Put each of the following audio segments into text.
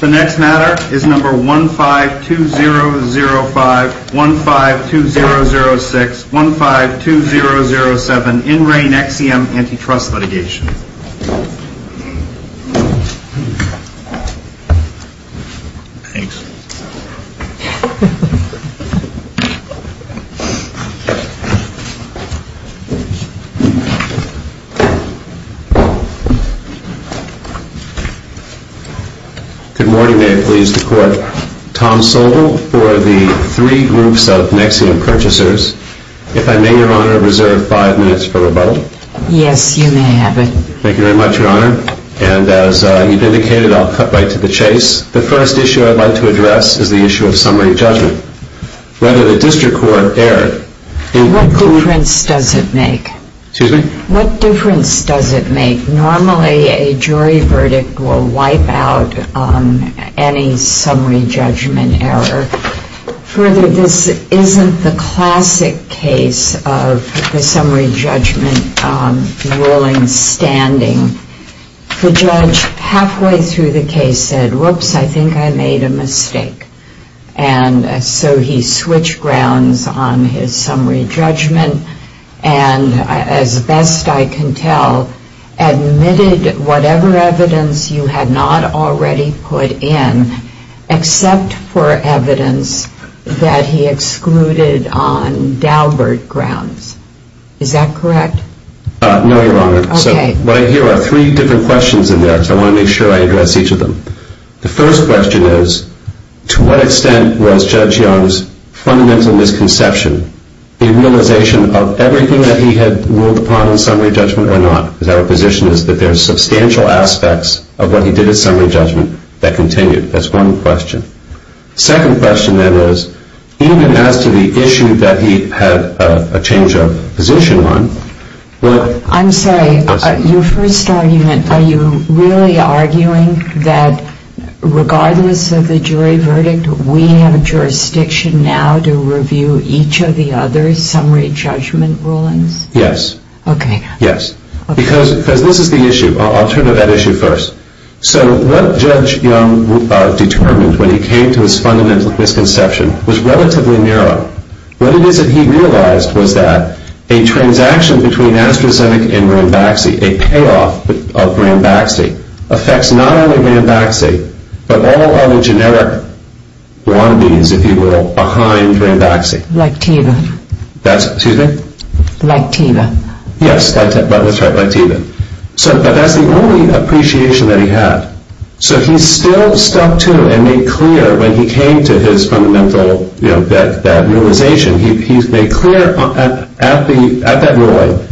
The next matter is number 1-5-2-0-0-5, 1-5-2-0-0-6, 1-5-2-0-0-7, in re Nexium Antitrust litigation. Good morning, may it please the Court. Tom Sobel for the three groups of Nexium purchasers. If I may, Your Honor, I reserve five minutes for rebuttal. Yes, you may have it. Thank you very much, Your Honor. And as you've indicated, I'll cut right to the chase. The first issue I'd like to address is the issue of summary judgment. Whether the district court erred... What difference does it make? Excuse me? What difference does it make? Normally, a jury verdict will wipe out any summary judgment error. Further, this isn't the classic case of the summary judgment ruling standing. The judge, halfway through the case, said, whoops, I think I made a mistake. And so he switched grounds on his summary judgment and, as best I can tell, admitted whatever evidence you had not already put in, except for evidence that he excluded on Daubert grounds. Is that correct? No, Your Honor. Okay. So what I hear are three different questions in there, so I want to make sure I address each of them. The first question is, to what extent was Judge Young's fundamental misconception a realization of everything that he had ruled upon in summary judgment or not? Because our position is that there are substantial aspects of what he did in summary judgment that continued. That's one question. The second question, then, is, even as to the issue that he had a change of position on... I'm sorry. Your first argument, are you really arguing that, regardless of the jury verdict, we have a jurisdiction now to review each of the other summary judgment rulings? Yes. Okay. Yes. Because this is the issue. I'll turn to that issue first. So what Judge Young determined when he came to his fundamental misconception was relatively narrow. What it is that he realized was that a transaction between AstraZeneca and Ranbaxy, a payoff of Ranbaxy, affects not only Ranbaxy, but all other generic wannabes, if you will, behind Ranbaxy. Lacteba. That's, excuse me? Lacteba. Yes, that's right, Lacteba. But that's the only appreciation that he had. So he still stuck to and made clear, when he came to his fundamental realization, he made clear at that ruling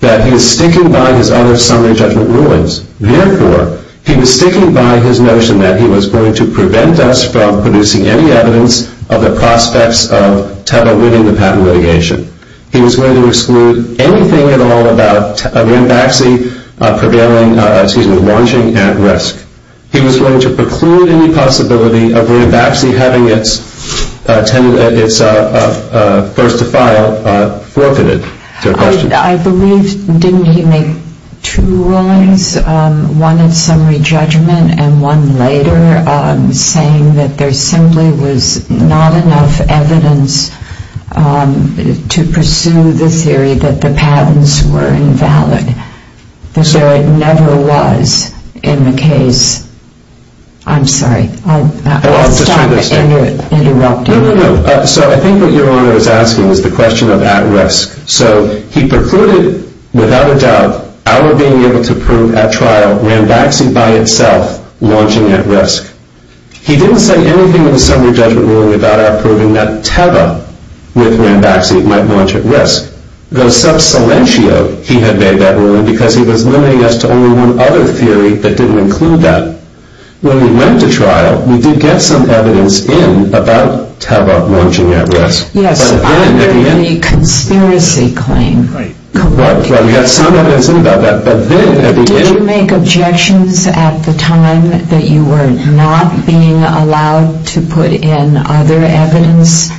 that he was sticking by his other summary judgment rulings. Therefore, he was sticking by his notion that he was going to prevent us from producing any evidence of the prospects of Teva winning the patent litigation. He was going to exclude anything at all about Ranbaxy prevailing, excuse me, launching at risk. He was going to preclude any possibility of Ranbaxy having its first to file forfeited. I believe, didn't he make two rulings, one at summary judgment and one later saying that there simply was not enough evidence to pursue the theory that the patents were invalid, that there never was in the case? I'm sorry, I'll stop interrupting. No, no, no. So I think what Your Honor is asking is the question of at risk. So he precluded, without a doubt, our being able to prove at trial Ranbaxy by itself launching at risk. He didn't say anything in the summary judgment ruling without our proving that Teva with Ranbaxy might launch at risk. Though sub silentio he had made that ruling because he was limiting us to only one other theory that didn't include that. When we went to trial, we did get some evidence in about Teva launching at risk. Yes, under the conspiracy claim. Right. We got some evidence in about that. Did you make objections at the time that you were not being allowed to put in other evidence?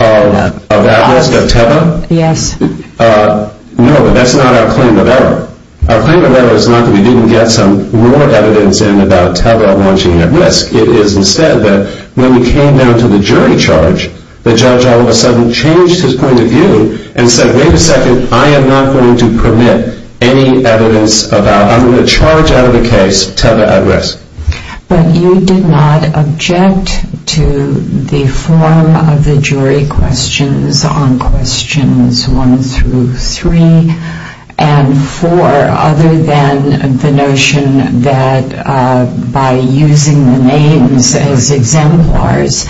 Of at risk, of Teva? Yes. No, but that's not our claim of error. Our claim of error is not that we didn't get some more evidence in about Teva launching at risk. It is instead that when we came down to the jury charge, the judge all of a sudden changed his point of view and said, wait a second, I am not going to permit any evidence about, I'm going to charge out of the case Teva at risk. But you did not object to the form of the jury questions on questions one through three and four, other than the notion that by using the names as exemplars,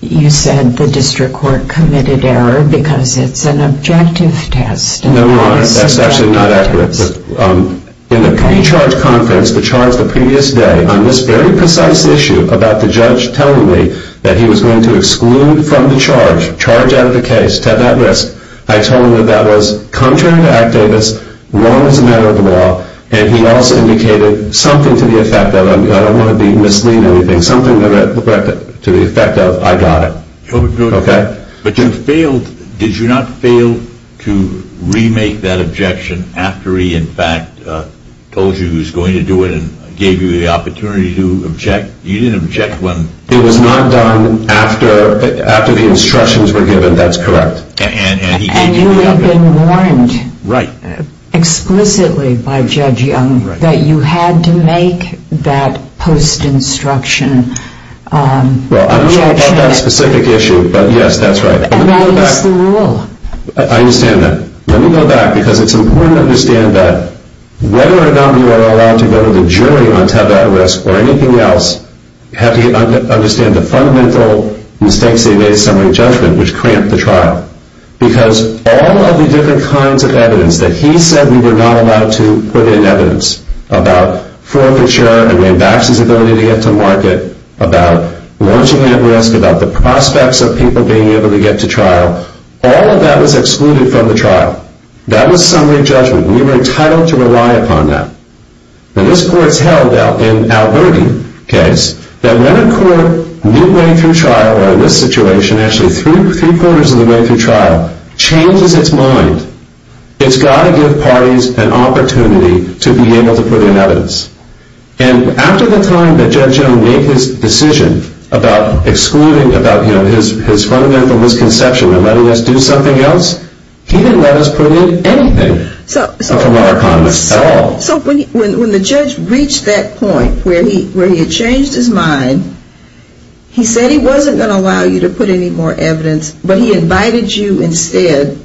you said the district court committed error because it's an objective test. No, that's actually not accurate. In the pre-charge conference, the charge the previous day, on this very precise issue about the judge telling me that he was going to exclude from the charge, charge out of the case, Teva at risk, I told him that that was contrary to Act Davis, wrong as a matter of law, and he also indicated something to the effect of, I don't want to be misleading anything, something to the effect of, I got it. Okay. But you failed, did you not fail to remake that objection after he in fact told you he was going to do it and gave you the opportunity to object? You didn't object when? It was not done after the instructions were given, that's correct. And you had been warned explicitly by Judge Young that you had to make that post-instruction objection. Well, I don't know about that specific issue, but yes, that's right. And that is the rule. I understand that. Let me go back because it's important to understand that whether or not you are allowed to go to the jury on Teva at risk or anything else, you have to understand the fundamental mistakes they made in summary judgment which cramped the trial. Because all of the different kinds of evidence that he said we were not allowed to put in evidence, about forfeiture and then Baxter's ability to get to market, about launching at risk, about the prospects of people being able to get to trial, all of that was excluded from the trial. That was summary judgment. We were entitled to rely upon that. And this court's held in Alberti case that when a court midway through trial, or in this situation actually three-quarters of the way through trial, changes its mind, it's got to give parties an opportunity to be able to put in evidence. And after the time that Judge Jones made his decision about excluding, about his fundamental misconception and letting us do something else, he didn't let us put in anything from our comments at all. So when the judge reached that point where he had changed his mind, he said he wasn't going to allow you to put in any more evidence, but he invited you instead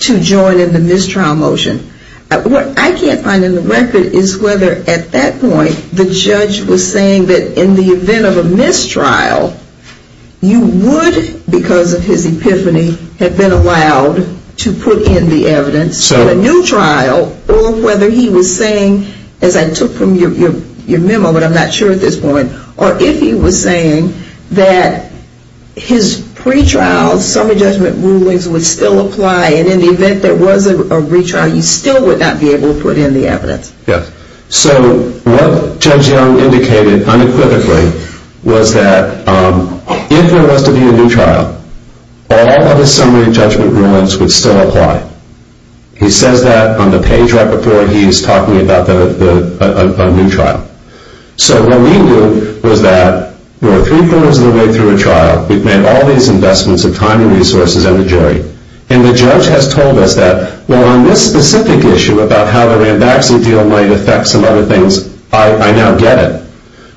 to join in the mistrial motion. What I can't find in the record is whether at that point the judge was saying that in the event of a mistrial, you would, because of his epiphany, have been allowed to put in the evidence for a new trial, or whether he was saying, as I took from your memo, but I'm not sure at this point, or if he was saying that his pretrial summary judgment rulings would still apply, and in the event there was a retrial, you still would not be able to put in the evidence. Yes. So what Judge Young indicated unequivocally was that if there was to be a new trial, all of his summary judgment rulings would still apply. He says that on the page right before he is talking about a new trial. So what we knew was that we were three-quarters of the way through a trial. We've made all these investments of time and resources and the jury. And the judge has told us that, well, on this specific issue about how the Rambaxi deal might affect some other things, I now get it.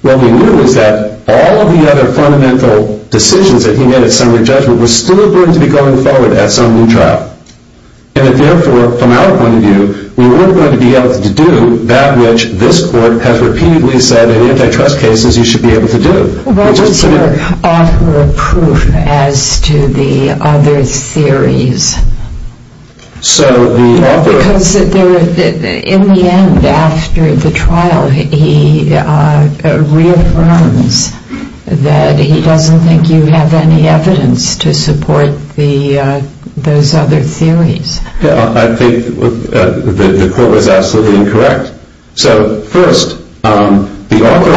What we knew is that all of the other fundamental decisions that he made at summary judgment were still going to be going forward at some new trial. And that, therefore, from our point of view, we weren't going to be able to do that which this court has repeatedly said in antitrust cases you should be able to do. What was your author of proof as to the other theories? Because in the end, after the trial, he reaffirms that he doesn't think you have any evidence to support those other theories. I think the court was absolutely incorrect. So first, the author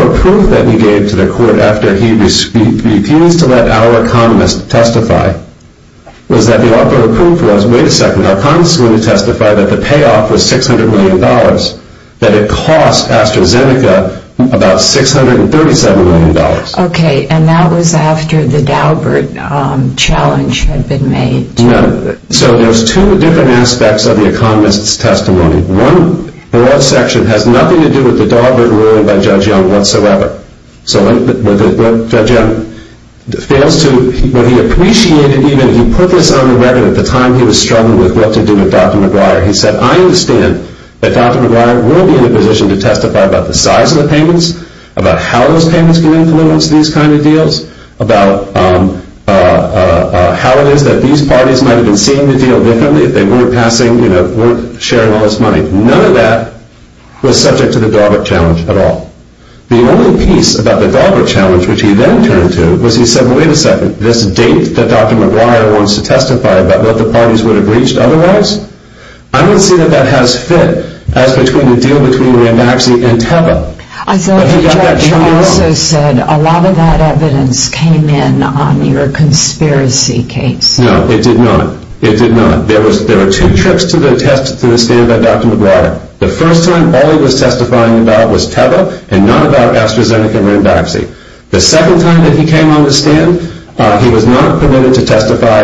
of proof that he gave to the court after he refused to let our economist testify was that the author of proof was, wait a second, our economist is going to testify that the payoff was $600 million, that it cost AstraZeneca about $637 million. Okay, and that was after the Daubert challenge had been made. So there's two different aspects of the economist's testimony. One broad section has nothing to do with the Daubert ruling by Judge Young whatsoever. So when Judge Young fails to, when he appreciated even, he put this on the record at the time he was struggling with what to do with Dr. McGuire. He said, I understand that Dr. McGuire will be in a position to testify about the size of the payments, about how those payments can influence these kind of deals, about how it is that these parties might have been seeing the deal differently if they weren't sharing all this money. None of that was subject to the Daubert challenge at all. The only piece about the Daubert challenge which he then turned to was he said, wait a second, this date that Dr. McGuire wants to testify about what the parties would have reached otherwise, I don't see that that has fit as between the deal between Ramaxi and Teva. I thought the judge also said a lot of that evidence came in on your conspiracy case. No, it did not. It did not. There were two trips to the stand by Dr. McGuire. The first time all he was testifying about was Teva and not about AstraZeneca and Ramaxi. The second time that he came on the stand, he was not permitted to testify.